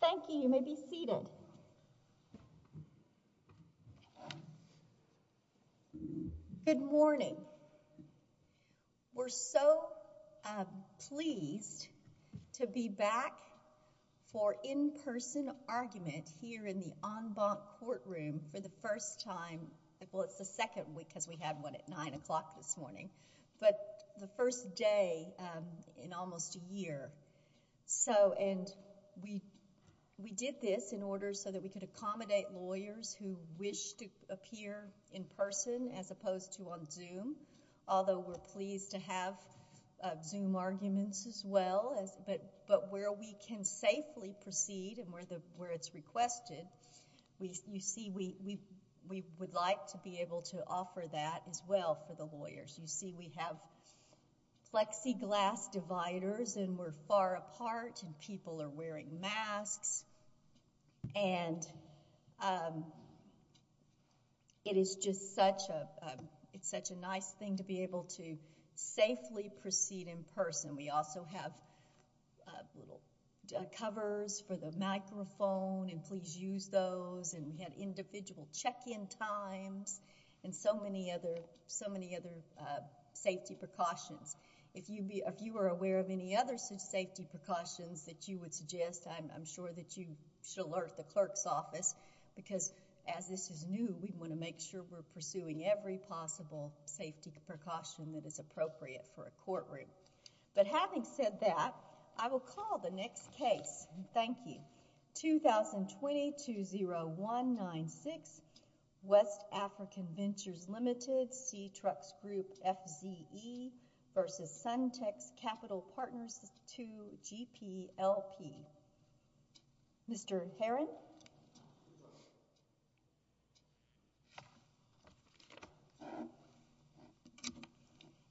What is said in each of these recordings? Thank you. You may be seated. Good morning. We're so pleased to be back for in-person argument here in the en banc courtroom for the first time. Well, it's the second week because we had one at nine o'clock this morning, but the first day in almost a year. And we did this in order so that we could accommodate lawyers who wish to appear in person as opposed to on Zoom, although we're pleased to have Zoom arguments as well. But where we can safely proceed and where it's requested, you see we would like to offer that as well for the lawyers. You see we have plexiglass dividers and we're far apart and people are wearing masks. And it is just such a nice thing to be able to safely proceed in person. We also have little covers for the microphone and please use those. And we had individual check-in times and so many other safety precautions. If you are aware of any other safety precautions that you would suggest, I'm sure that you should alert the clerk's office because as this is new, we want to make sure we're pursuing every possible safety precaution that is appropriate for a courtroom. But having said that, I will call the next case. Thank you. 2020-20196, West African Ventures Limited, C-Trux Group, FZE versus Suntec's Capital Partners to GPLP. Mr. Heron?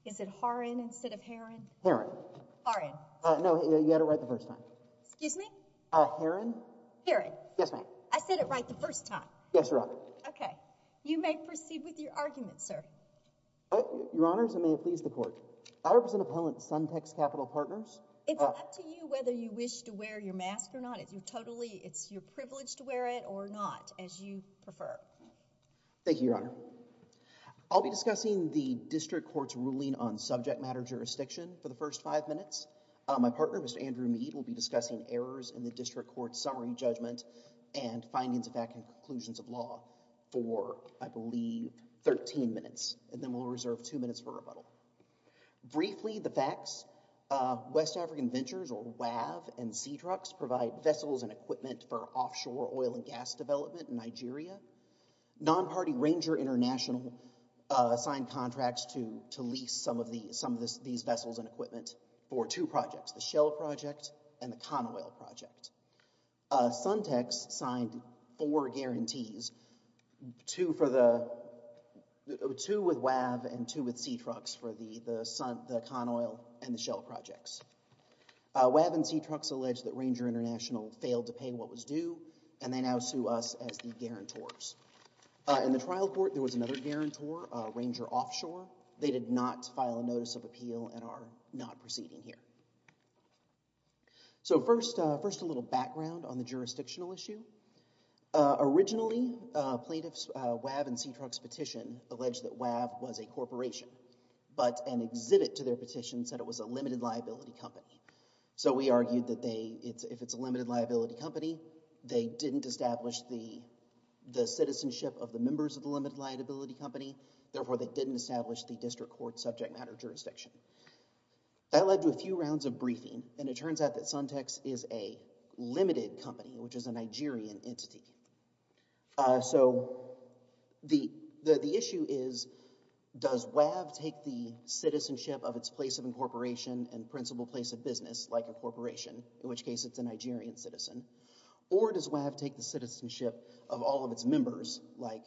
Is it Har-in instead of Heron? Heron. Har-in. No, you had it right the first time. Excuse me? Heron. Heron. Yes, ma'am. I said it right the first time. Yes, Your Honor. Okay. You may proceed with your argument, sir. Your Honors, and may it please the Court. I represent appellant Suntec's Capital Partners. Do you have the privilege to wear it or not as you prefer? Thank you, Your Honor. I'll be discussing the district court's ruling on subject matter jurisdiction for the first five minutes. My partner, Mr. Andrew Mead, will be discussing errors in the district court's summary judgment and findings of fact and conclusions of law for, I believe, thirteen minutes and then we'll reserve two minutes for rebuttal. Briefly, the facts. West African ventures or WAV and C-Trucks provide vessels and equipment for offshore oil and gas development in Nigeria. Non-party Ranger International signed contracts to lease some of these vessels and equipment for two projects, the Shell Project and the Con-Oil Project. Suntec's signed four guarantees, two for the, two with WAV and two with C-Trucks for the Con-Oil and the Shell Projects. WAV and C-Trucks allege that Ranger International failed to pay what was due and they now sue us as the guarantors. In the trial court, there was another guarantor, Ranger Offshore. They did not file a notice of appeal and are not proceeding here. So first, first a little background on the jurisdictional issue. Originally, plaintiffs' WAV and C-Trucks petition alleged that WAV was a corporation, but an exhibit to their petition said it was a limited liability company. So we argued that they, if it's a limited liability company, they didn't establish the, the citizenship of the members of the limited liability company, therefore they didn't establish the district court subject matter jurisdiction. That led to a few rounds of briefing and it turns out that Suntec's is a limited company, which is a Nigerian entity. So the, the issue is, does WAV take the citizenship of its place of incorporation and principal place of business, like a corporation, in which case it's a Nigerian citizen, or does WAV take the citizenship of all of its members, like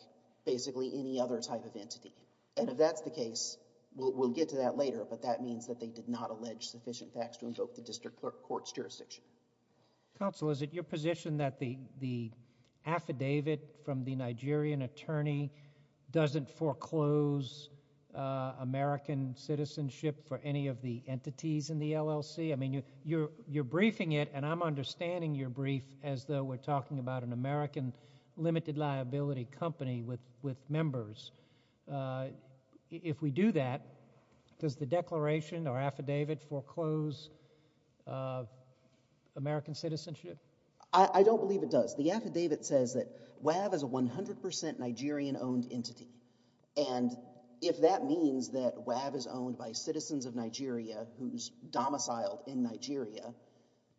basically any other type of entity? And if that's the case, we'll, we'll get to that later, but that means that they did not allege sufficient facts to invoke the district court's jurisdiction. Counsel, is it your position that the, the affidavit from the Nigerian attorney doesn't foreclose American citizenship for any of the entities in the LLC? I mean, you, you're, you're briefing it and I'm understanding your brief as though we're talking about an American limited liability company with, with members. Uh, if we do that, does the declaration or affidavit foreclose, uh, American citizenship? I, I don't believe it does. The affidavit says that WAV is a 100% Nigerian owned entity and if that means that WAV is owned by citizens of Nigeria who's domiciled in Nigeria,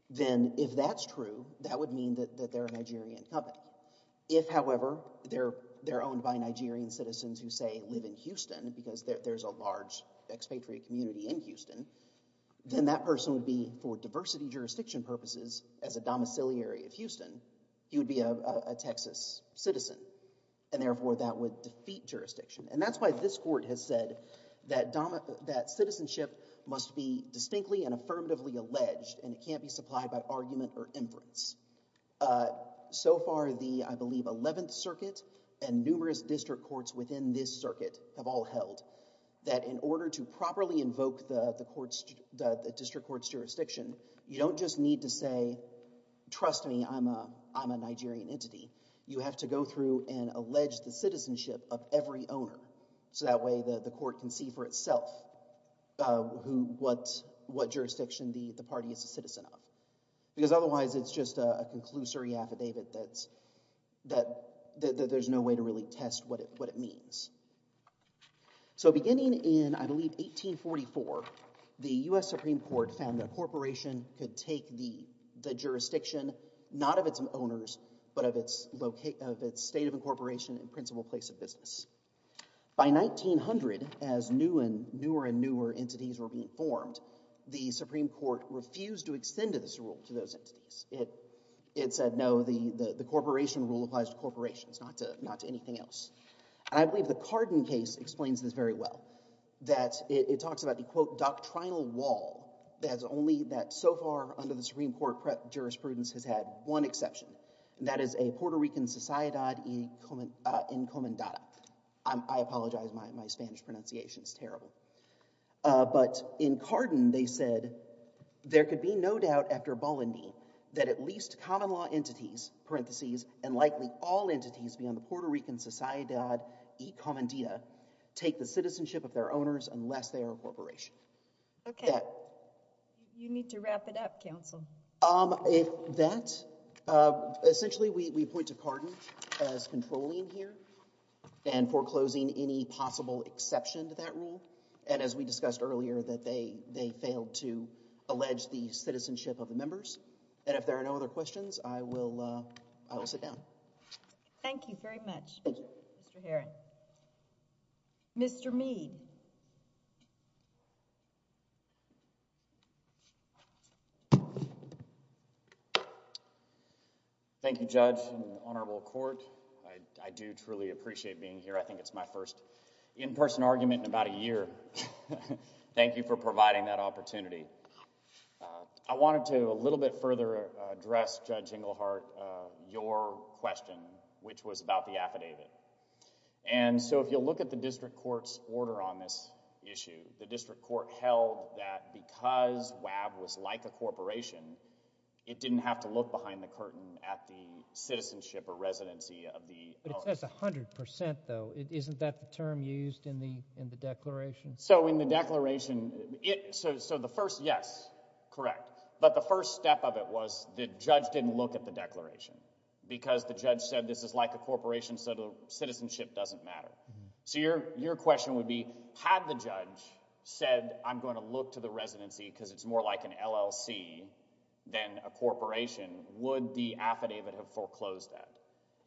then if that's true, that would mean that, that they're a Nigerian company. If however, they're, they're owned by Nigerian citizens who say live in Houston because there, there's a large expatriate community in Houston, then that person would be for diversity jurisdiction purposes as a domiciliary of Houston, you'd be a, a, a Texas citizen and therefore that would defeat jurisdiction. And that's why this court has said that domi, that citizenship must be distinctly and affirmatively alleged and it can't be supplied by argument or inference. Uh, so far the, I believe 11th circuit and numerous district courts within this circuit have all held that in order to properly invoke the, the court's, the, the district court's jurisdiction, you don't just need to say, trust me, I'm a, I'm a Nigerian entity. You have to go through and allege the citizenship of every owner. So that way the, the court can see for itself, uh, who, what, what jurisdiction the, the party is a citizen of. Because otherwise it's just a, a conclusory affidavit that's, that there's no way to really test what it, what it means. So beginning in, I believe 1844, the U.S. Supreme Court found that a corporation could take the, the jurisdiction not of its owners, but of its locate, of its state of incorporation and principal place of business. By 1900, as new and newer and newer entities were being formed, the Supreme Court refused to extend this rule to those entities. It, it said, no, the, the, the corporation rule applies to corporations, not to, not to anything else. And I believe the Carden case explains this very well, that it talks about the quote, doctrinal wall that has only that so far under the Supreme Court jurisprudence has had one exception, and that is a Puerto Rican sociedad in Comandata. I'm, I apologize. My, my Spanish pronunciation is terrible. But in Carden, they said, there could be no doubt after Bolivni that at least common law entities, parentheses, and likely all entities beyond the Puerto Rican sociedad y Comandita take the citizenship of their owners unless they are a corporation. Okay. You need to wrap it up, counsel. If that, essentially we, we point to Carden as controlling here and foreclosing any possible exception to that rule. And as we discussed earlier, that they, they failed to allege the citizenship of the members. And if there are no other questions, I will, I will sit down. Thank you very much, Mr. Heron. Mr. Mead. Thank you, Judge and Honorable Court. I, I do truly appreciate being here. I think it's my first in-person argument in about a year. Thank you for providing that opportunity. I wanted to a little bit further address, Judge Englehart, your question, which was about the affidavit. And so, if you'll look at the district court's order on this issue, the district court held that because WAB was like a corporation, it didn't have to look behind the curtain at the citizenship or residency of the owners. That's a hundred percent, though. Isn't that the term used in the, in the declaration? So, in the declaration, it, so, so the first, yes, correct. But the first step of it was the judge didn't look at the declaration because the judge said this is like a corporation, so the citizenship doesn't matter. So, your, your question would be, had the judge said, I'm going to look to the residency because it's more like an LLC than a corporation, would the affidavit have foreclosed that?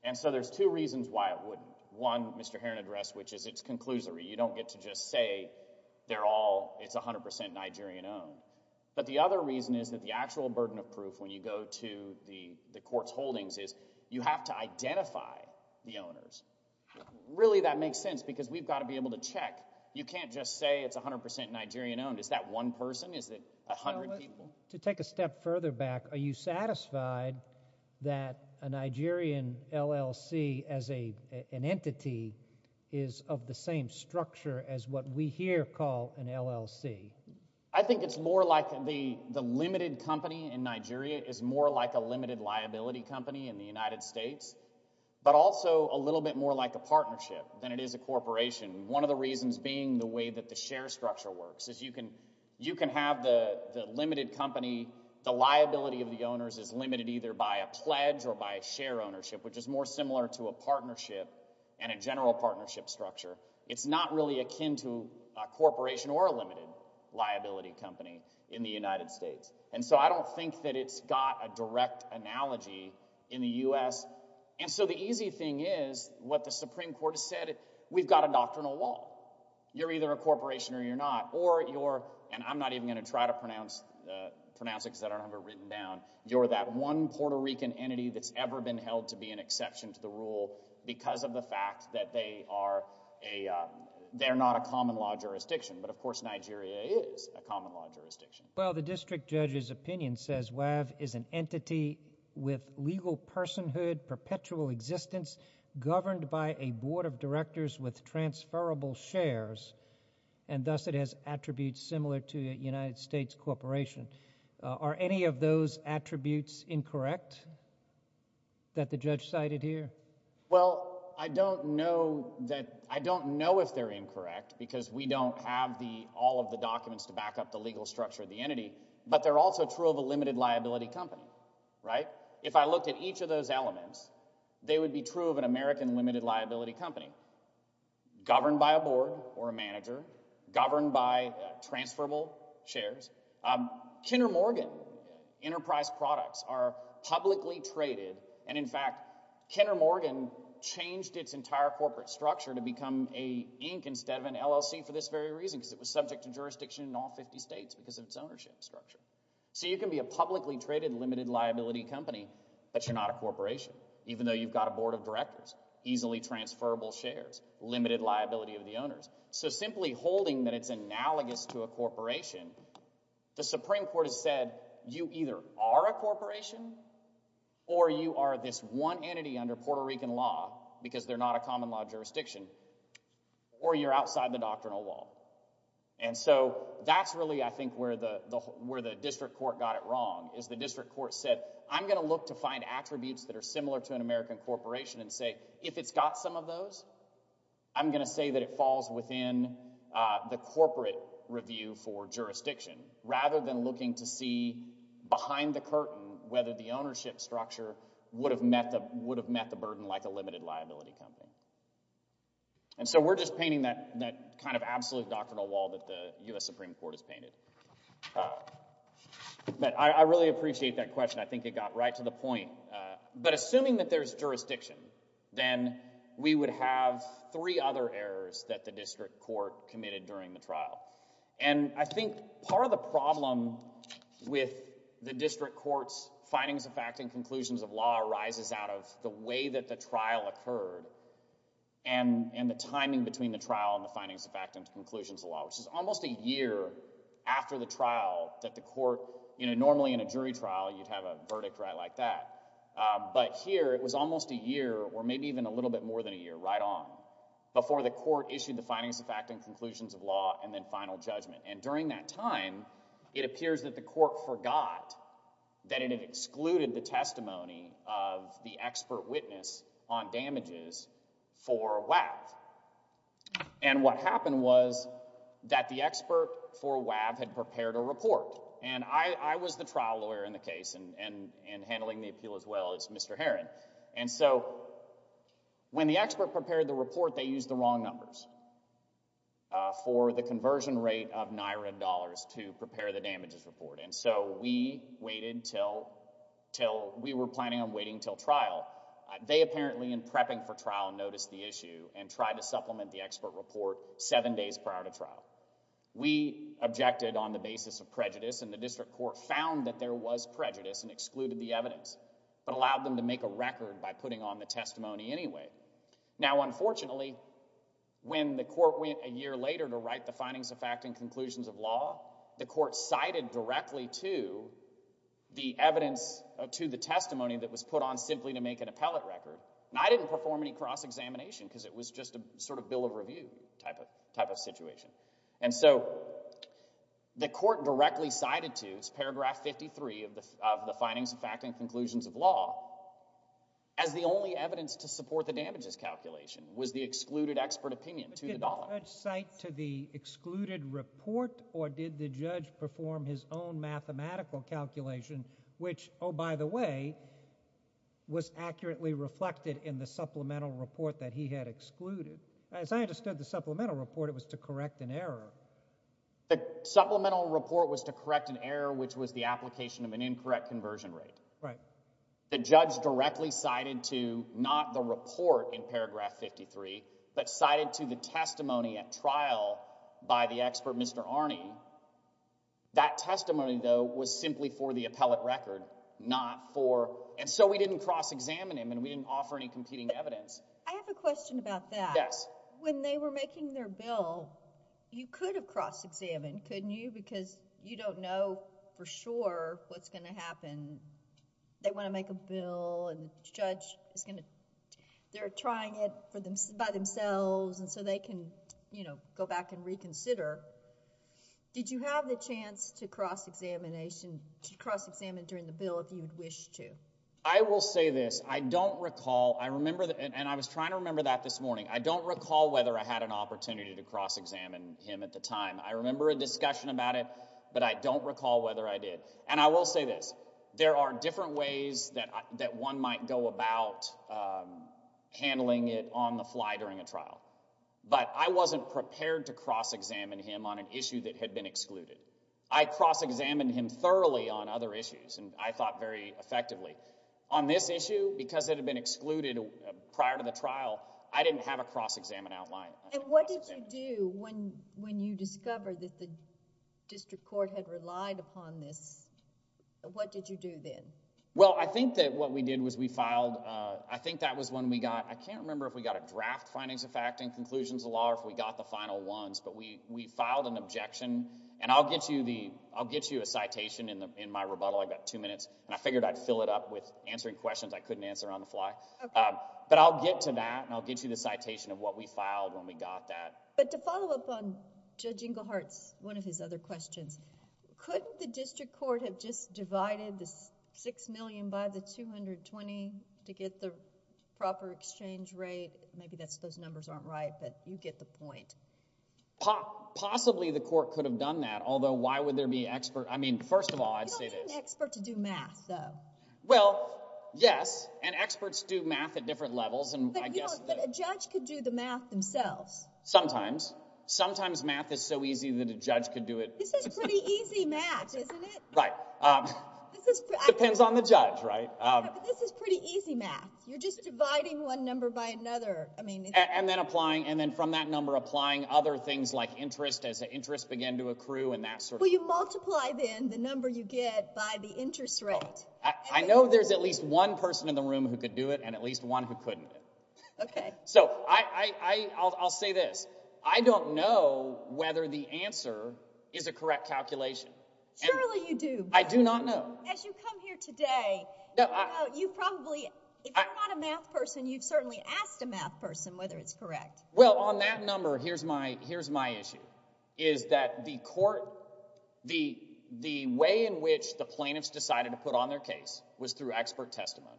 And so, there's two reasons why it wouldn't. One, Mr. Heron addressed, which is it's conclusory. You don't get to just say they're all, it's a hundred percent Nigerian-owned. But the other reason is that the actual burden of proof when you go to the, the court's holdings is you have to identify the owners. Really, that makes sense because we've got to be able to check. You can't just say it's a hundred percent Nigerian-owned. Is that one person? Is it a hundred people? To take a step further back, are you satisfied that a Nigerian LLC as a, an entity is of the same structure as what we here call an LLC? I think it's more like the, the limited company in Nigeria is more like a limited liability company in the United States, but also a little bit more like a partnership than it is a corporation. One of the reasons being the way that the share structure works is you can, you can have the, the limited company, the liability of the owners is limited either by a pledge or by a share ownership, which is more similar to a partnership and a general partnership structure. It's not really akin to a corporation or a limited liability company in the United States. And so I don't think that it's got a direct analogy in the U.S. And so the easy thing is what the Supreme Court has said, we've got a doctrinal law. You're either a and I'm going to try to pronounce, pronounce it because I don't have it written down. You're that one Puerto Rican entity that's ever been held to be an exception to the rule because of the fact that they are a, they're not a common law jurisdiction. But of course, Nigeria is a common law jurisdiction. Well, the district judge's opinion says WAV is an entity with legal personhood, perpetual existence governed by a board of directors with transferable shares. And thus it has attributes similar to a United States corporation. Uh, are any of those attributes incorrect that the judge cited here? Well, I don't know that, I don't know if they're incorrect because we don't have the, all of the documents to back up the legal structure of the entity, but they're also true of a limited liability company, right? If I looked at each of those elements, they would be true of an American limited liability company governed by a board or a manager governed by transferable shares. Um, Kenner Morgan enterprise products are publicly traded. And in fact, Kenner Morgan changed its entire corporate structure to become a ink instead of an LLC for this very reason, because it was subject to jurisdiction in all 50 states because of its ownership structure. So you can be a publicly traded limited liability company, but you're not a corporation, even though you've got a board of directors, easily transferable shares, limited liability of the owners. So simply holding that it's analogous to a corporation, the Supreme Court has said you either are a corporation or you are this one entity under Puerto Rican law because they're not a common law jurisdiction or you're outside the doctrinal wall. And so that's really, I think where the, the, where the district court got it wrong is the district court said, I'm going to look to find attributes that are similar to an American corporation and say, if it's got some of those, I'm going to say that it falls within, uh, the corporate review for jurisdiction rather than looking to see behind the curtain, whether the ownership structure would have met the, would have met the burden like a limited liability company. And so we're just painting that, that kind of absolute doctrinal wall that the U S Supreme Court has painted. Uh, but I really appreciate that question. I think it got right to the point. Uh, but assuming that there's jurisdiction, then we would have three other errors that the district court committed during the trial. And I think part of the problem with the district courts findings of fact and conclusions of law arises out of the way that the trial occurred and, and the timing between the trial and the findings of fact and conclusions of law, which is almost a year after the trial that the court, you know, normally in a jury trial, you'd have a verdict right like that. Um, but here it was almost a year or maybe even a little bit more than a year right on before the court issued the findings of fact and conclusions of law and then final judgment. And during that time, it appears that the court forgot that it had excluded the testimony of the expert witness on damages for WAP. And what happened was that the expert for WAP had prepared a report and I, I was the trial lawyer in the case and, and, and handling the appeal as well as Mr. Heron. And so when the expert prepared the report, they used the wrong numbers, uh, for the conversion rate of NYRA dollars to prepare the damages report. And so we waited until, till we were planning on waiting until trial. They apparently in prepping for trial noticed the issue and tried to supplement the expert report seven days prior to trial. We objected on the basis of prejudice and the district court found that there was prejudice and excluded the evidence, but allowed them to make a record by putting on the testimony anyway. Now, unfortunately, when the court went a year later to write the findings of fact and conclusions of law, the court cited directly to the evidence to the testimony that was put on simply to make an appellate record. And I didn't perform any cross examination because it was just a sort of bill of review type of, type of situation. And so the court directly cited to its paragraph 53 of the, of the findings of fact and conclusions of law as the only evidence to support the damages calculation was the excluded expert opinion to the dollar. Did the judge cite to the excluded report or did the judge perform his own mathematical calculation which, oh, by the way, was accurately reflected in the supplemental report that he had excluded? As I understood the supplemental report, it was to correct an error. The supplemental report was to correct an error which was the application of an incorrect conversion rate. Right. The judge directly cited to not the report in paragraph 53, but cited to the testimony at trial by the expert, Mr. Arney. That testimony, though, was simply for the appellate record, not for, and so we didn't cross examine him and we didn't offer any competing evidence. I have a question about that. Yes. When they were making their bill, you could have cross examined, couldn't you? Because you don't know for sure what's going to happen. They want to make a bill and the judge is going to, they're trying it for them, by themselves and so they can, you know, go back and reconsider. Did you have the chance to cross examination, to cross examine during the bill if you would wish to? I will say this, I don't recall, I remember, and I was trying to remember that this morning, I don't recall whether I had an opportunity to cross examine him at the time. I remember a discussion about it, but I don't recall whether I did. And I will say this, there are different ways that one might go about handling it on the fly during a trial, but I wasn't prepared to cross examine him on an issue that had been excluded. I cross examined him thoroughly on other issues and I thought very effectively. On this issue, because it had been excluded prior to the trial, I didn't have a cross examine outline. And what did you do when you discovered that the district court had relied upon this, what did you do then? Well, I think that what we did was we filed, I think that was when we got, I can't remember if we got a draft findings of fact and conclusions of law or if we got the final ones, but we got the citation in my rebuttal, I've got two minutes, and I figured I'd fill it up with answering questions I couldn't answer on the fly. But I'll get to that and I'll get you the citation of what we filed when we got that. But to follow up on Judge Englehart's, one of his other questions, couldn't the district court have just divided the six million by the 220 to get the proper exchange rate? Maybe those numbers aren't right, but you get the point. Possibly the court could have done that, although why would there be expert, I mean, first of all, I'd say this. You don't need an expert to do math, though. Well, yes, and experts do math at different levels. But a judge could do the math themselves. Sometimes. Sometimes math is so easy that a judge could do it. This is pretty easy math, isn't it? Right. Depends on the judge, right? Yeah, but this is pretty easy math. You're just dividing one number by another. And then applying, and then from that number applying other things like interest as the interest began to accrue and that sort of thing. Well, you multiply then the number you get by the interest rate. I know there's at least one person in the room who could do it and at least one who couldn't. Okay. So I'll say this. I don't know whether the answer is a correct calculation. Surely you do. I do not know. As you come here today, you probably, if you're not a math person, you've certainly asked a math person whether it's correct. Well, on that number, here's my issue. Is that the court, the way in which the plaintiffs decided to put on their case was through expert testimony.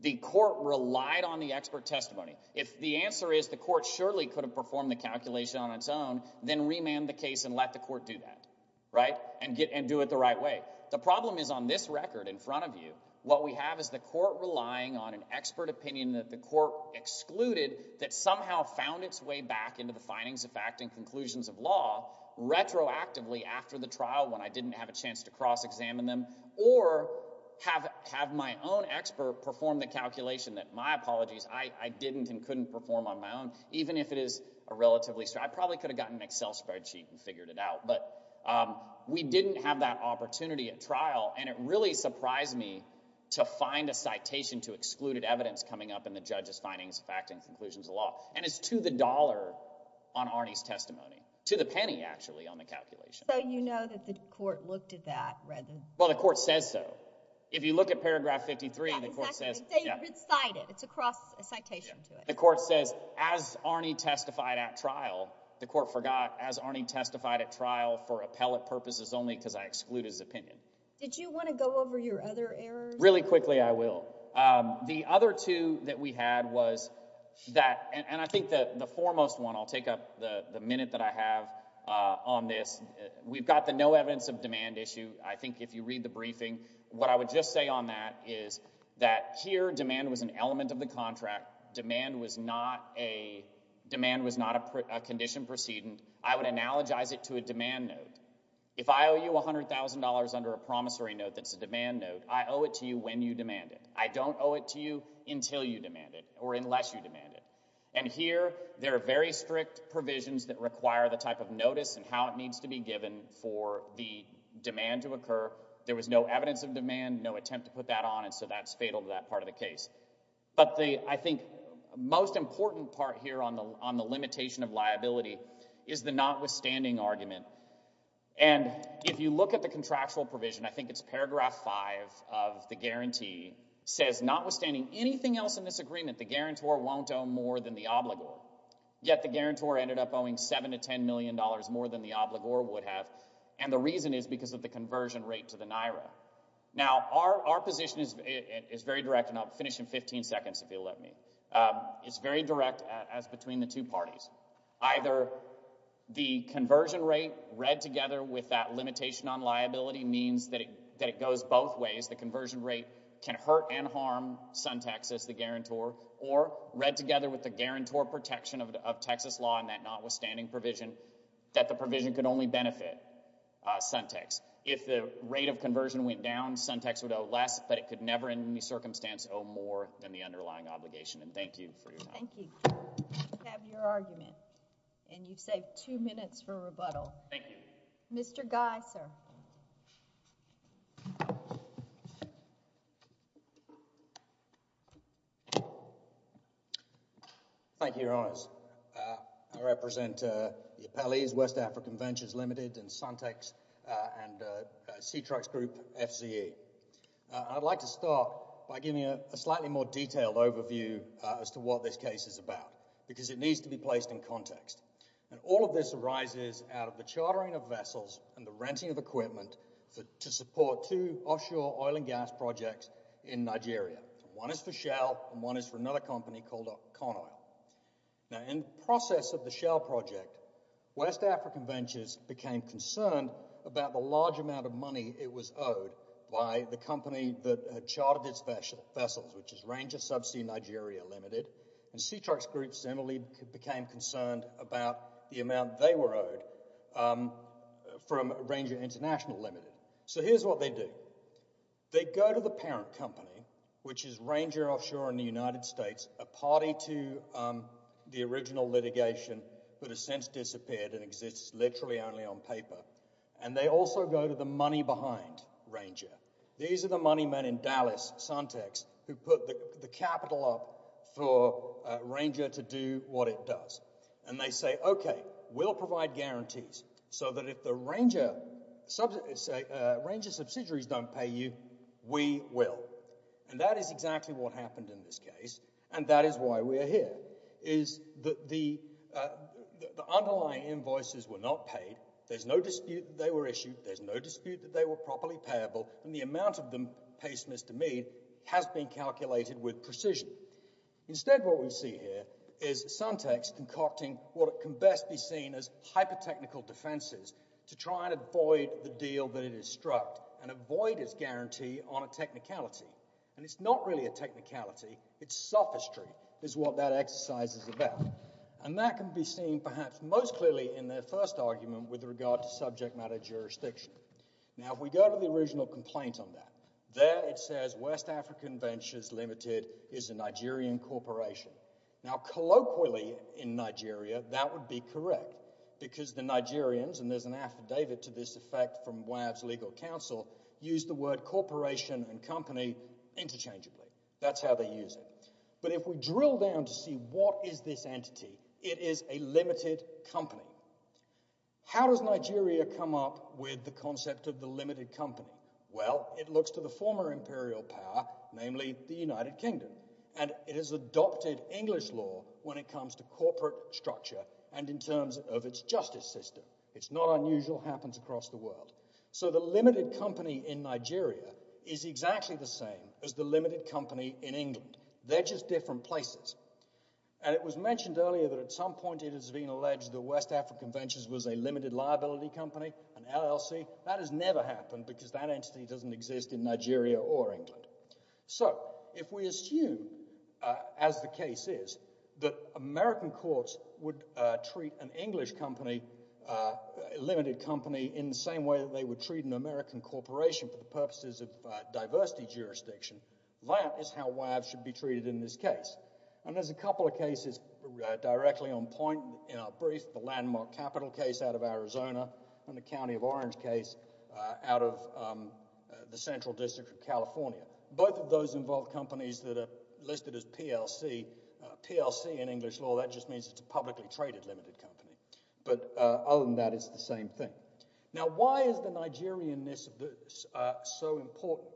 The court relied on the expert testimony. If the answer is the court surely could have performed the calculation on its own, then remand the case and let the court do that. Right? And do it the right way. The problem is on this record in front of you, what we have is the court relying on an expert opinion that the court excluded that somehow found its way back into the findings of fact and conclusions of law retroactively after the trial when I didn't have a chance to cross-examine them or have my own expert perform the calculation that, my apologies, I didn't and couldn't perform on my own, even if it is a relatively... I probably could have gotten an Excel spreadsheet and figured it out. But we didn't have that opportunity at trial. And it really surprised me to find a citation to excluded evidence coming up in the judge's findings of fact and conclusions of law. And it's to the dollar on Arnie's testimony. To the penny, actually, on the calculation. So you know that the court looked at that rather than... Well, the court says so. If you look at paragraph 53, the court says... Exactly. It's cited. It's across a citation to it. The court says, as Arnie testified at trial, the court forgot, as Arnie testified at trial for appellate purposes only because I exclude his opinion. Did you want to go over your other errors? Really quickly, I will. The other two that we had was that... And I think the foremost one... I'll take up the minute that I have on this. We've got the no evidence of demand issue, I think, if you read the briefing. What I would just say on that is that here, demand was an element of the contract. Demand was not a condition proceeding. I would analogize it to a demand note. If I owe you $100,000 under a promissory note that's a demand note, I owe it to you when you demand it. I don't owe it to you until you demand it or unless you demand it. And here, there are very strict provisions that require the type of notice and how it needs to be given for the demand to occur. There was no evidence of demand, no attempt to put that on, and so that's fatal to that part of the case. But I think the most important part here on the limitation of liability is the notwithstanding argument. And if you look at the contractual provision, I think it's paragraph 5 of the guarantee, says, notwithstanding anything else in this agreement, the guarantor won't owe more than the obligor. Yet the guarantor ended up owing $7 to $10 million more than the obligor would have, and the reason is because of the conversion rate to the NIRA. Now, our position is very direct, and I'll finish in 15 seconds, if you'll let me. It's very direct as between the two parties. Either the conversion rate read together with that limitation on liability means that it goes both ways, the conversion rate can hurt and harm SunTex as the guarantor, or read together with the guarantor protection of Texas law and that notwithstanding provision, that the provision could only benefit SunTex. If the rate of conversion went down, SunTex would owe less, but it could never in any circumstance owe more than the underlying obligation. And thank you for your time. Thank you. We have your argument, and you've saved two minutes for rebuttal. Thank you. Mr. Guy, sir. Thank you, Your Honors. I represent the Appellees, West African Ventures Limited and SunTex, and SeaTrucks Group, FCA. I'd like to start by giving a slightly more detailed overview as to what this case is about, because it needs to be placed in context. And all of this arises out of the chartering of vessels and the renting of equipment to support two offshore oil and gas projects in Nigeria. One is for Shell, and one is for another company called Conoil. Now, in the process of the Shell project, West African Ventures became concerned about the large amount of money it was owed by the company that had chartered its vessels, which is Ranger Subsea Nigeria Limited, and SeaTrucks Group similarly became concerned about the amount they were owed from Ranger International Limited. So here's what they do. They go to the parent company, which is Ranger Offshore in the United States, a party to the original litigation that has since disappeared and exists literally only on paper, and they also go to the money behind Ranger. These are the money men in Dallas, Suntex, who put the capital up for Ranger to do what it does. And they say, OK, we'll provide guarantees so that if the Ranger subsidiaries don't pay you, we will. And that is exactly what happened in this case, and that is why we are here, is that the underlying invoices were not paid, there's no dispute that they were issued, there's no dispute that they were properly payable, and the amount of them paced, Mr. Mead, has been calculated with precision. Instead, what we see here is Suntex concocting what can best be seen as hyper-technical defenses to try and avoid the deal that it has struck and avoid its guarantee on a technicality. And it's not really a technicality, it's sophistry is what that exercise is about. And that can be seen perhaps most clearly in their first argument, with regard to subject matter jurisdiction. Now, if we go to the original complaint on that, there it says West African Ventures Limited is a Nigerian corporation. Now, colloquially in Nigeria, that would be correct, because the Nigerians, and there's an affidavit to this effect from WAV's legal counsel, use the word corporation and company interchangeably. That's how they use it. But if we drill down to see what is this entity, it is a limited company. How does Nigeria come up with the concept of the limited company? Well, it looks to the former imperial power, namely the United Kingdom. And it has adopted English law when it comes to corporate structure and in terms of its justice system. It's not unusual, happens across the world. So the limited company in Nigeria is exactly the same as the limited company in England. They're just different places. And it was mentioned earlier that at some point it has been alleged that West African Ventures was a limited liability company, an LLC. That has never happened, because that entity doesn't exist in Nigeria or England. So if we assume, as the case is, that American courts would treat an English company, a limited company, in the same way that they would treat an American corporation for the purposes of diversity jurisdiction, that is how WAV should be treated in this case. And there's a couple of cases directly on point in our brief. The Landmark Capital case out of Arizona and the County of Orange case out of the Central District of California. Both of those involve companies that are listed as PLC. PLC in English law, that just means it's a publicly traded limited company. But other than that, it's the same thing. Now, why is the Nigerianness of this so important?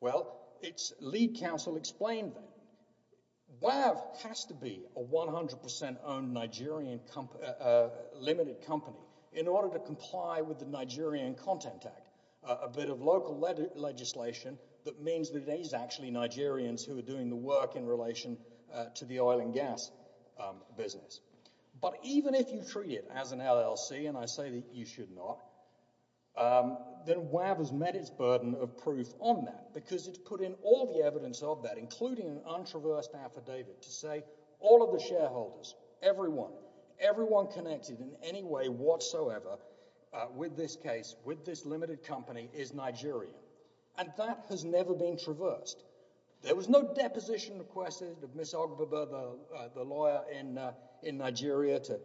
Well, its lead counsel explained that. WAV has to be a 100% owned Nigerian limited company in order to comply with the Nigerian Content Act, a bit of local legislation that means that it is actually Nigerians who are doing the work in relation to the oil and gas business. But even if you treat it as an LLC, and I say that you should not, then WAV has met its burden of proof on that because it's put in all the evidence of that, including an untraversed affidavit to say all of the shareholders, everyone, everyone connected in any way whatsoever with this case, with this limited company, is Nigerian. And that has never been traversed. There was no deposition requested of Miss Ogbebe, the lawyer in Nigeria, to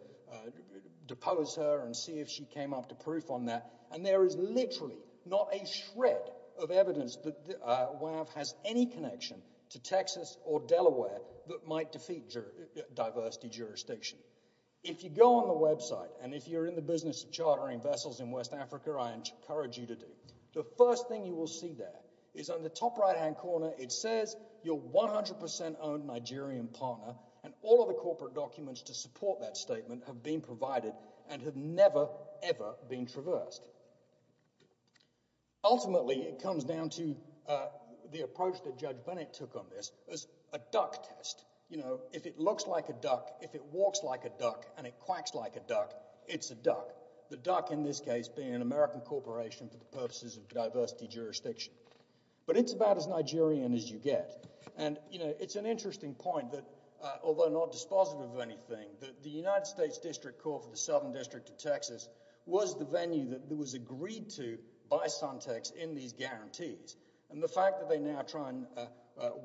depose her and see if she came up to proof on that. And there is literally not a shred of evidence that WAV has any connection to Texas or Delaware that might defeat diversity jurisdiction. If you go on the website, and if you're in the business of chartering vessels in West Africa, I encourage you to do, the first thing you will see there is on the top right-hand corner, it says you're 100% owned Nigerian partner, and all of the corporate documents to support that statement have been provided and have never, ever been traversed. Ultimately, it comes down to the approach that Judge Bennett took on this as a duck test. If it looks like a duck, if it walks like a duck, and it quacks like a duck, it's a duck. The duck in this case being an American corporation for the purposes of diversity jurisdiction. But it's about as Nigerian as you get. And, you know, it's an interesting point that, although not dispositive of anything, that the United States District Court for the Southern District of Texas was the venue that was agreed to by Suntex in these guarantees. And the fact that they now try and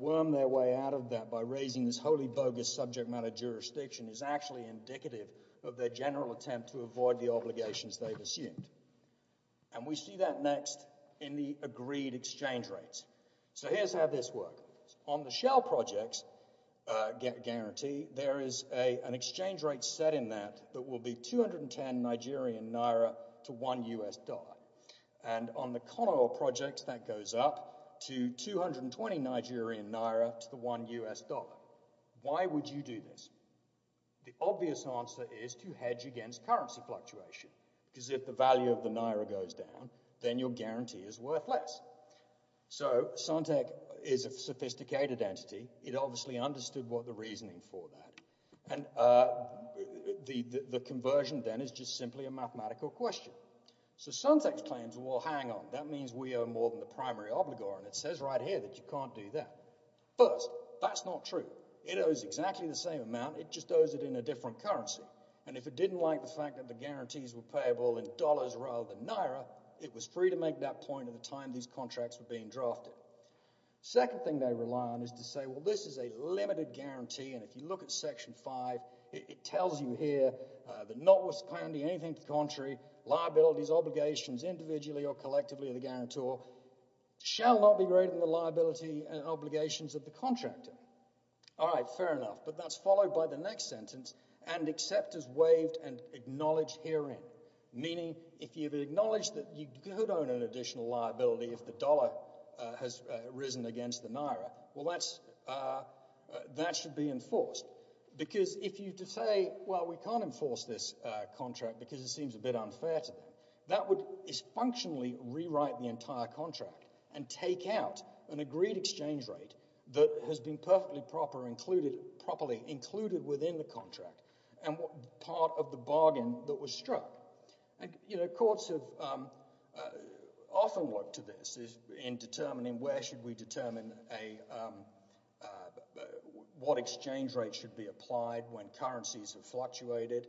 worm their way out of that by raising this wholly bogus subject matter jurisdiction is actually indicative of their general attempt to avoid the obligations they've assumed. And we see that next in the agreed exchange rates. So here's how this works. On the Shell projects guarantee, there is an exchange rate set in that that will be 210 Nigerian Naira to one US dollar. And on the Conoil project, that goes up to 220 Nigerian Naira to the one US dollar. Why would you do this? The obvious answer is to hedge against currency fluctuation. Because if the value of the Naira goes down, then your guarantee is worth less. So Suntex is a sophisticated entity. It obviously understood the reasoning for that. And the conversion then is just simply a mathematical question. So Suntex claims, well hang on, that means we owe more than the primary obligor and it says right here that you can't do that. First, that's not true. It owes exactly the same amount, it just owes it in a different currency. And if it didn't like the fact that the guarantees were payable in dollars rather than Naira, it was free to make that point at the time these contracts were being drafted. Second thing they rely on is to say well this is a limited guarantee and if you look at section 5, it tells you here that notwithstanding anything to the contrary, liabilities, obligations, individually or collectively of the guarantor, shall not be greater than the liability and obligations of the contractor. Alright, fair enough. But that's followed by the next sentence, and accept as waived and acknowledge herein. Meaning, if you've acknowledged that you could own an additional liability if the dollar has risen against the Naira, well that's that should be enforced. Because if you say well we can't enforce this contract because it seems a bit unfair to them, that would dysfunctionally rewrite the entire contract and take out an agreed exchange rate that has been perfectly proper included, properly included within the contract and part of the bargain that was struck. You know, courts have often looked to this in determining where should we determine a what exchange rate should be applied when currencies have fluctuated.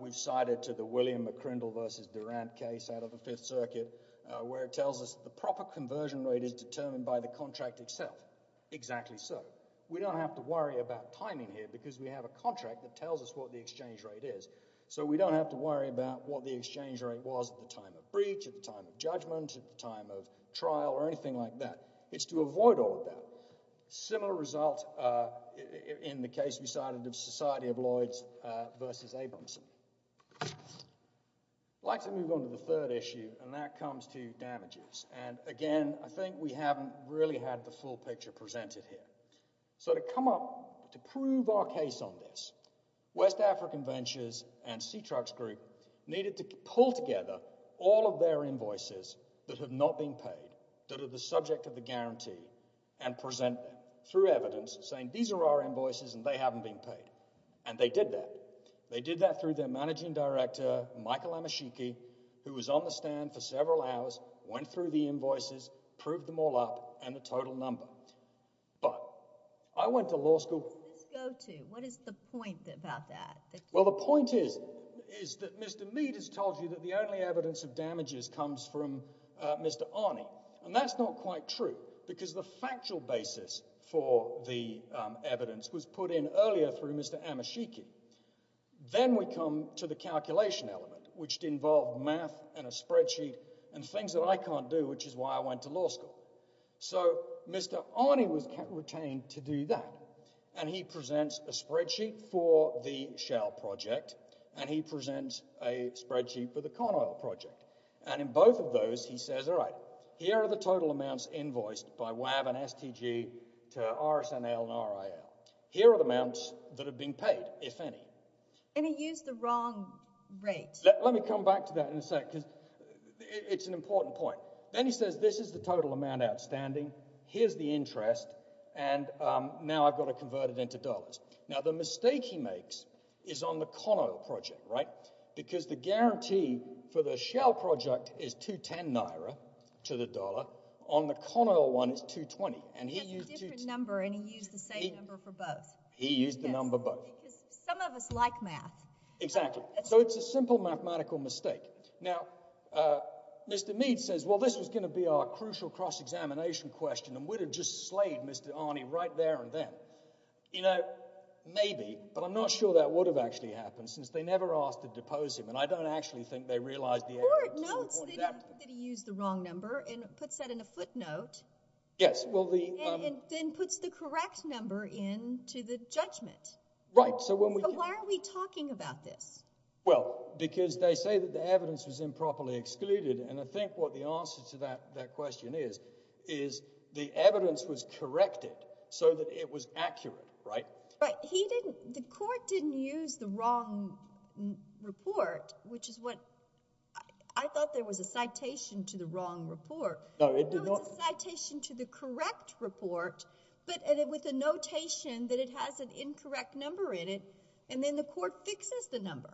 We've cited to the William McCrindle versus Durant case out of the Fifth Circuit, where it tells us the proper conversion rate is determined by the contract itself. Exactly so. We don't have to worry about timing here because we have a contract that tells us what the exchange rate is. So we don't have to worry about what the exchange rate was at the time of breach, at the time of judgment, at the time of trial or anything like that. It's to avoid all of that. Similar result in the case we cited of Society of Lloyds versus Abramson. I'd like to move on to the third issue and that comes to damages. And again, I think we haven't really had the full picture presented here. So to come up to prove our case on this, West African Ventures and SeaTrucks Group needed to pull together all of their invoices that have not been paid, that are the subject of the guarantee and present them through evidence saying these are our invoices and they haven't been paid. And they did that. They did that through their managing director Michael Amashiki, who was on the stand for several hours, went through the invoices, proved them all up and the total number. But, I went to law school... What is the point about that? Well, the point is that Mr. Mead has told you that the only evidence of damages comes from Mr. Arney. And that's not quite true because the factual basis for the evidence was put in earlier through Mr. Amashiki. Then we come to the calculation element, which involved math and a spreadsheet and things that I can't do, which is why I went to law school. So, Mr. Arney was retained to do that. And he presents a spreadsheet for the Shell project and he presents a spreadsheet for the Conoil project. And in both of those, he says, alright, here are the total amounts invoiced by WAV and STG to RSNL and RIL. Here are the amounts that have been paid, if any. And he used the wrong rate. Let me come back to that in a sec, because it's an important point. Then he says, this is the total amount outstanding, here's the interest, and now I've got to convert it into dollars. Now, the mistake he makes is on the Conoil project, right? Because the guarantee for the Shell project is 210 naira to the dollar. On the Conoil one, it's 220. And he used a different number and he used the same number for both. He used the number both. Some of us like math. Exactly. So, it's a simple mathematical mistake. Now, uh, Mr. Mead says, well, this was going to be our crucial cross-examination question, and we'd have just slayed Mr. Arney right there and then. You know, maybe, but I'm not sure that would have actually happened since they never asked to depose him, and I don't actually think they realized the error. No, it's that he used the wrong number and puts that in a footnote, and then puts the correct number into the judgment. Right, so when we... But why are we talking about this? Well, because they say that the evidence was improperly excluded, and I think what the answer to that question is, is the evidence was corrected so that it was accurate, right? Right. He didn't... The court didn't use the wrong report, which is what... I thought there was a citation to the wrong report. No, it did not. No, it's a citation to the correct report, but with a notation that it has an incorrect number in it, and then the court fixes the number.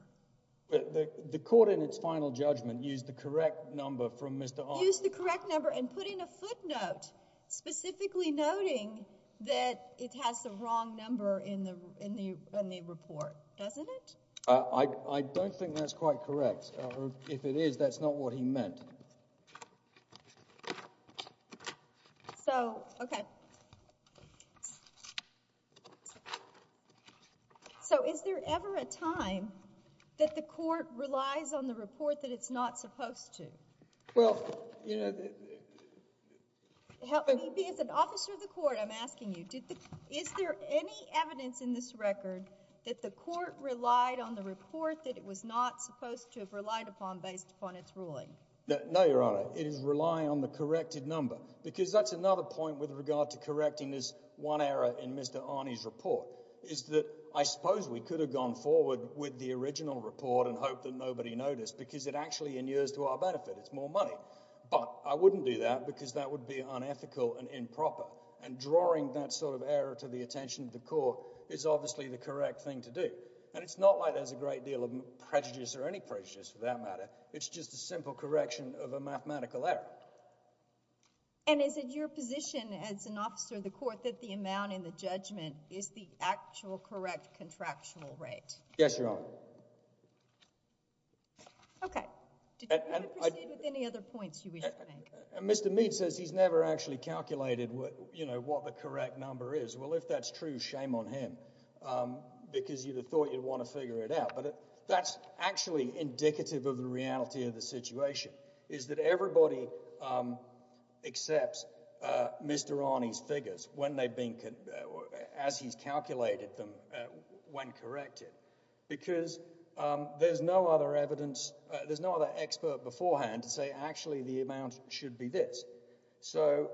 The court, in its final judgment, used the correct number from Mr. Arnold. Used the correct number and put in a footnote specifically noting that it has the wrong number in the report, doesn't it? I don't think that's quite correct. If it is, that's not what he meant. So, okay. So, is there ever a time that the court relies on the report that it's not supposed to? Well, you know... Help me. As an officer of the court, I'm asking you, is there any evidence in this record that the court relied on the report that it was not supposed to have relied upon based upon its ruling? No, Your Honor. It is relying on the corrected number, because that's another point with regard to correcting this one error in Mr. Arnie's report, is that I suppose we could have gone forward with the original report and hoped that nobody noticed, because it actually inures to our benefit. It's more money. But, I wouldn't do that, because that would be unethical and improper. And drawing that sort of error to the attention of the court is obviously the correct thing to do. And it's not like there's a great deal of prejudice, or any prejudice for that matter. It's just a simple correction of a mathematical error. And is it your position as an officer of the court that the amount in the judgment is the actual correct contractual rate? Yes, Your Honor. Okay. Did you want to proceed with any other points you wish to make? Mr. Meade says he's never actually calculated what the correct number is. Well, if that's true, shame on him. Because you'd have thought you'd want to figure it out. But that's actually indicative of the reality of the situation, is that everybody accepts Mr. Arney's figures as he's calculated them when corrected. Because there's no other expert beforehand to say, actually, the amount should be this. So,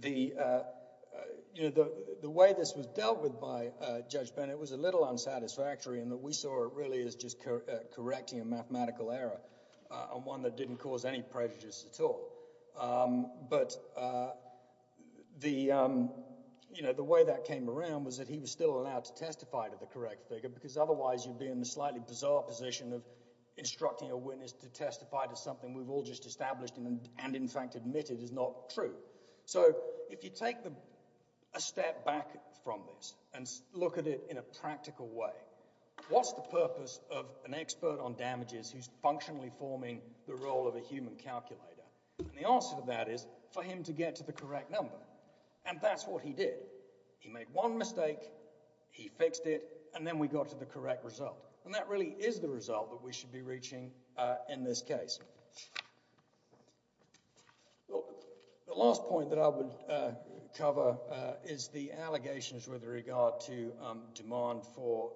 the way this was dealt with by Judge Bennett was a little unsatisfactory in that we saw it really as just correcting a mathematical error and one that didn't cause any prejudice at all. But the way that came around was that he was still allowed to testify to the correct figure because otherwise you'd be in the slightly bizarre position of instructing a witness to testify to something we've all just established and in fact admitted is not true. So, if you take a step back from this and look at it in a practical way, what's the purpose of an expert on damages who's functionally forming the role of a human calculator? And the answer to that is for him to get to the correct number. And that's what he did. He made one mistake, he fixed it, and then we got to the correct result. And that really is the result that we should be reaching in this case. The last point that I would cover is the allegations with regard to demand for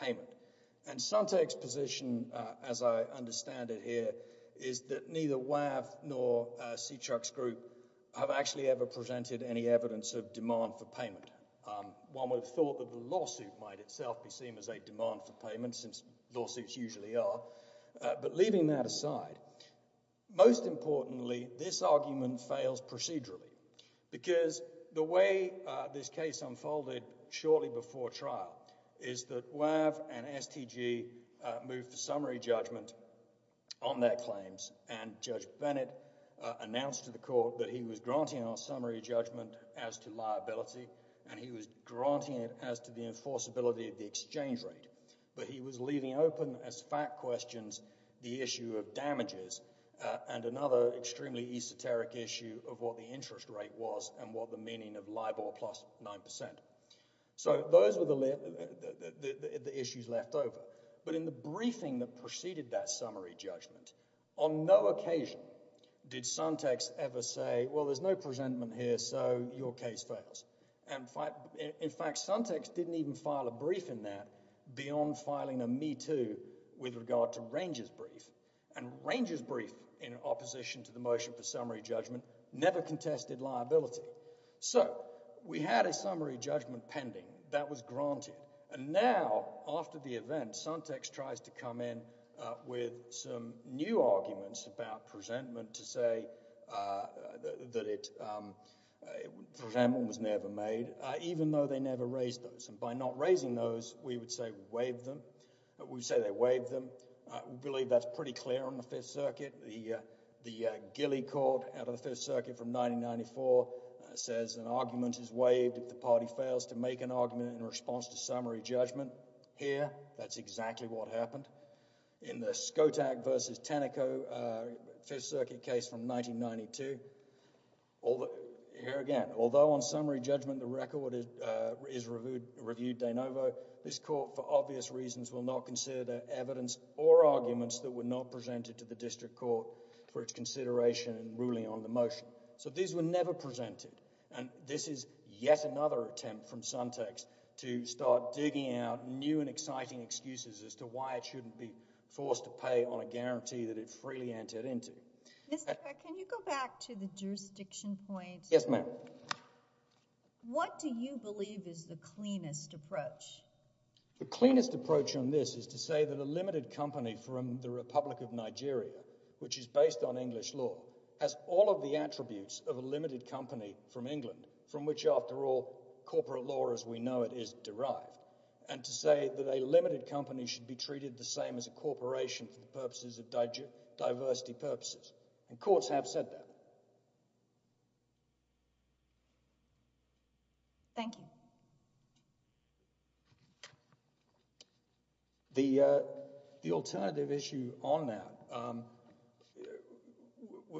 payment. And Suntec's position, as I understand it here, is that neither WAV nor C-Trux Group have actually ever presented any evidence of demand for payment. One would have thought that the lawsuit might itself be seen as a demand for payment, since lawsuits usually are. But leaving that aside, most importantly this argument fails procedurally because the way this case unfolded shortly before trial is that WAV and STG moved to summary judgment on their claims, and Judge Bennett announced to the court that he was granting our summary judgment as to liability, and he was granting it as to the enforceability of the exchange rate. But he was leaving open, as fact questions, the issue of damages, and another extremely esoteric issue of what the interest rate was and what the meaning of LIBOR plus 9%. So those were the issues left over. But in the briefing that preceded that summary judgment, on no occasion did Suntec ever say, well, there's no presentment here so your case fails. In fact, Suntec didn't even file a brief in that beyond filing a Me Too with regard to Ranger's brief. And Ranger's brief, in opposition to the motion for summary judgment, never contested liability. So, we had a summary judgment pending. That was granted. And now, after the event, Suntec tries to come in with some new arguments about presentment to say that it presentment was never made, even though they never raised those. And by not raising those, we would say WAV'd them. We'd say they WAV'd them. I believe that's pretty clear on the Fifth Circuit. The Gilley Court out of the Fifth Circuit from 1994 says an argument is WAV'd if the party fails to make an argument in response to summary judgment. Here, that's exactly what happened. In the Skotak v. Tenneco Fifth Circuit case from 1992, here again, although on summary judgment the record is reviewed de novo, this court, for obvious reasons, will not consider evidence or arguments that were not presented to the District Court for its consideration in ruling on the motion. So, these were never presented. And this is yet another attempt from Suntec to start digging out new and exciting excuses as to why it shouldn't be forced to pay on a guarantee that it freely entered into. Mr. Peck, can you go back to the jurisdiction point? Yes, ma'am. What do you believe is the cleanest approach? The cleanest approach on this is to say that a limited company from the Republic of Nigeria, which is based on English law, has all of the attributes of a limited company from England, from which, after all, corporate law as we know it is derived, and to say that a limited company should be treated the same as a corporation for the purposes of diversity purposes. And courts have said that. Thank you. The alternative issue on that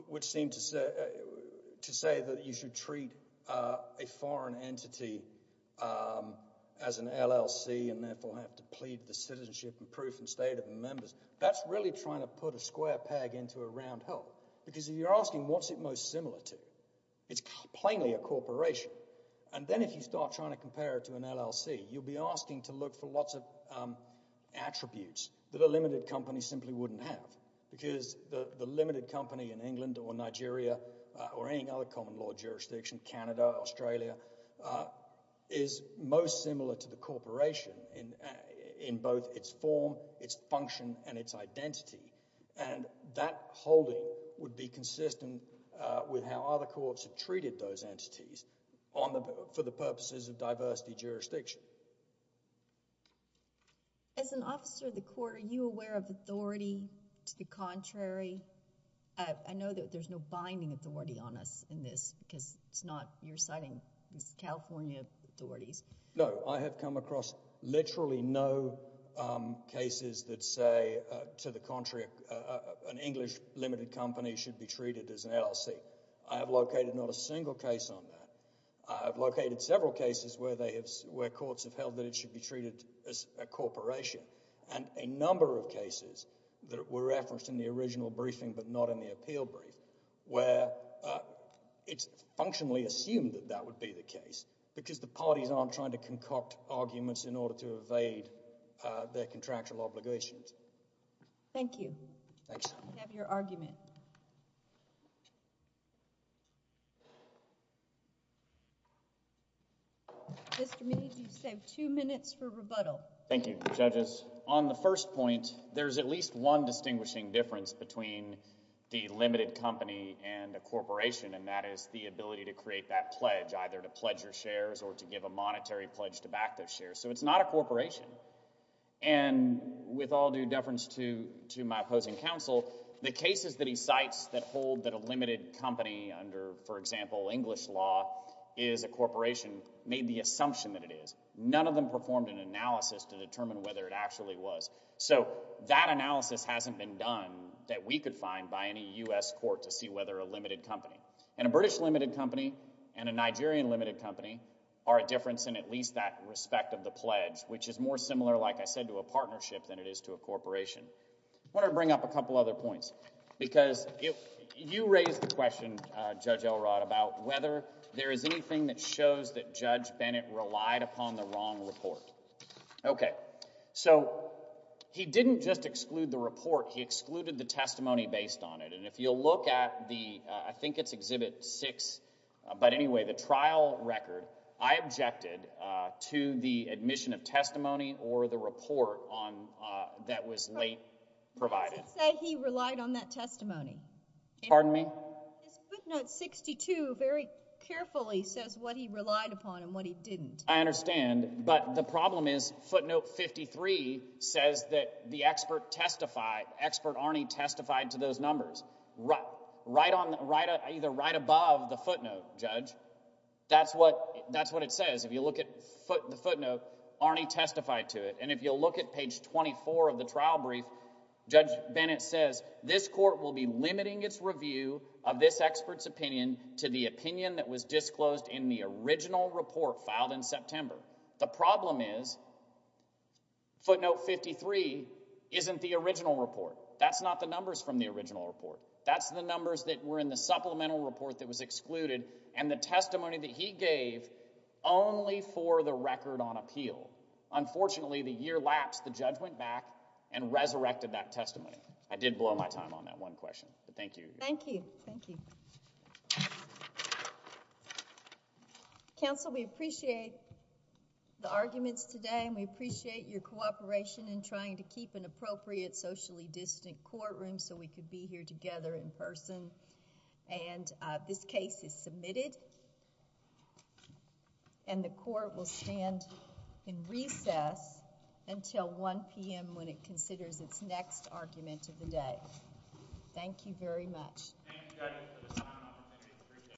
would seem to say that you should treat a foreign entity as an LLC and therefore have to plead the citizenship and proof and state of the members. That's really trying to put a square peg into a round hole. Because if you're asking what's it most similar to, it's plainly a corporation. And then if you start trying to compare it to an LLC, you'll be asking to look for lots of attributes that a limited company simply wouldn't have. Because the limited company in England or Nigeria or any other common law jurisdiction, Canada, Australia, is most similar to the corporation in both its form, its function, and its identity. And that holding would be consistent with how other courts have treated those entities for the purposes of diversity jurisdiction. As an officer of the court, are you aware of authority to the contrary? I know that there's no binding authority on us in this because it's not, you're citing these California authorities. No. I have come across literally no cases that say, to the contrary, an English limited company should be treated as an LLC. I have located not a single case on that. I have located several cases where courts have held that it should be treated as a corporation. And a number of cases that were referenced in the original briefing but not in the appeal brief, where it's functionally assumed that that would be the case because the parties aren't trying to concoct arguments in order to evade their contractual obligations. Thank you. I have your argument. Mr. Meade, you've saved two minutes for rebuttal. Thank you, judges. On the first point, there's at least one distinguishing difference between the limited company and a corporation, and that is the ability to create that pledge, either to pledge your shares or to give a monetary pledge to back those shares. So it's not a corporation. And with all due deference to my opposing counsel, the cases that he cites that hold that a limited company under, for this law, is a corporation made the assumption that it is. None of them performed an analysis to determine whether it actually was. So that analysis hasn't been done that we could find by any U.S. court to see whether a limited company. And a British limited company and a Nigerian limited company are a difference in at least that respect of the pledge, which is more similar, like I said, to a partnership than it is to a corporation. I want to bring up a couple other points because you raised the question about whether there is anything that shows that Judge Bennett relied upon the wrong report. Okay. So he didn't just exclude the report. He excluded the testimony based on it. And if you'll look at the, I think it's Exhibit 6, but anyway, the trial record, I objected to the admission of testimony or the report that was late provided. Pardon me? Footnote 62 very carefully says what he relied upon and what he didn't. I understand. But the problem is footnote 53 says that the expert testified, expert Arnie testified to those numbers. Right above the footnote, Judge. That's what it says. If you look at the footnote, Arnie testified to it. And if you'll look at page 24 of the trial brief, Judge Bennett says, this court will be limiting its review of this expert's opinion to the opinion that was disclosed in the original report filed in September. The problem is footnote 53 isn't the original report. That's not the numbers from the original report. That's the numbers that were in the supplemental report that was excluded and the testimony that he gave only for the record on appeal. Unfortunately, the year lapsed. The judge went back and resurrected that testimony. I did blow my time on that one question. Thank you. Thank you. Counsel, we appreciate the arguments today and we appreciate your cooperation in trying to keep an appropriate socially distant courtroom so we could be here together in person. This case is submitted and the court will stand in recess until 1 p.m. when it considers its next argument of the day. Thank you very much.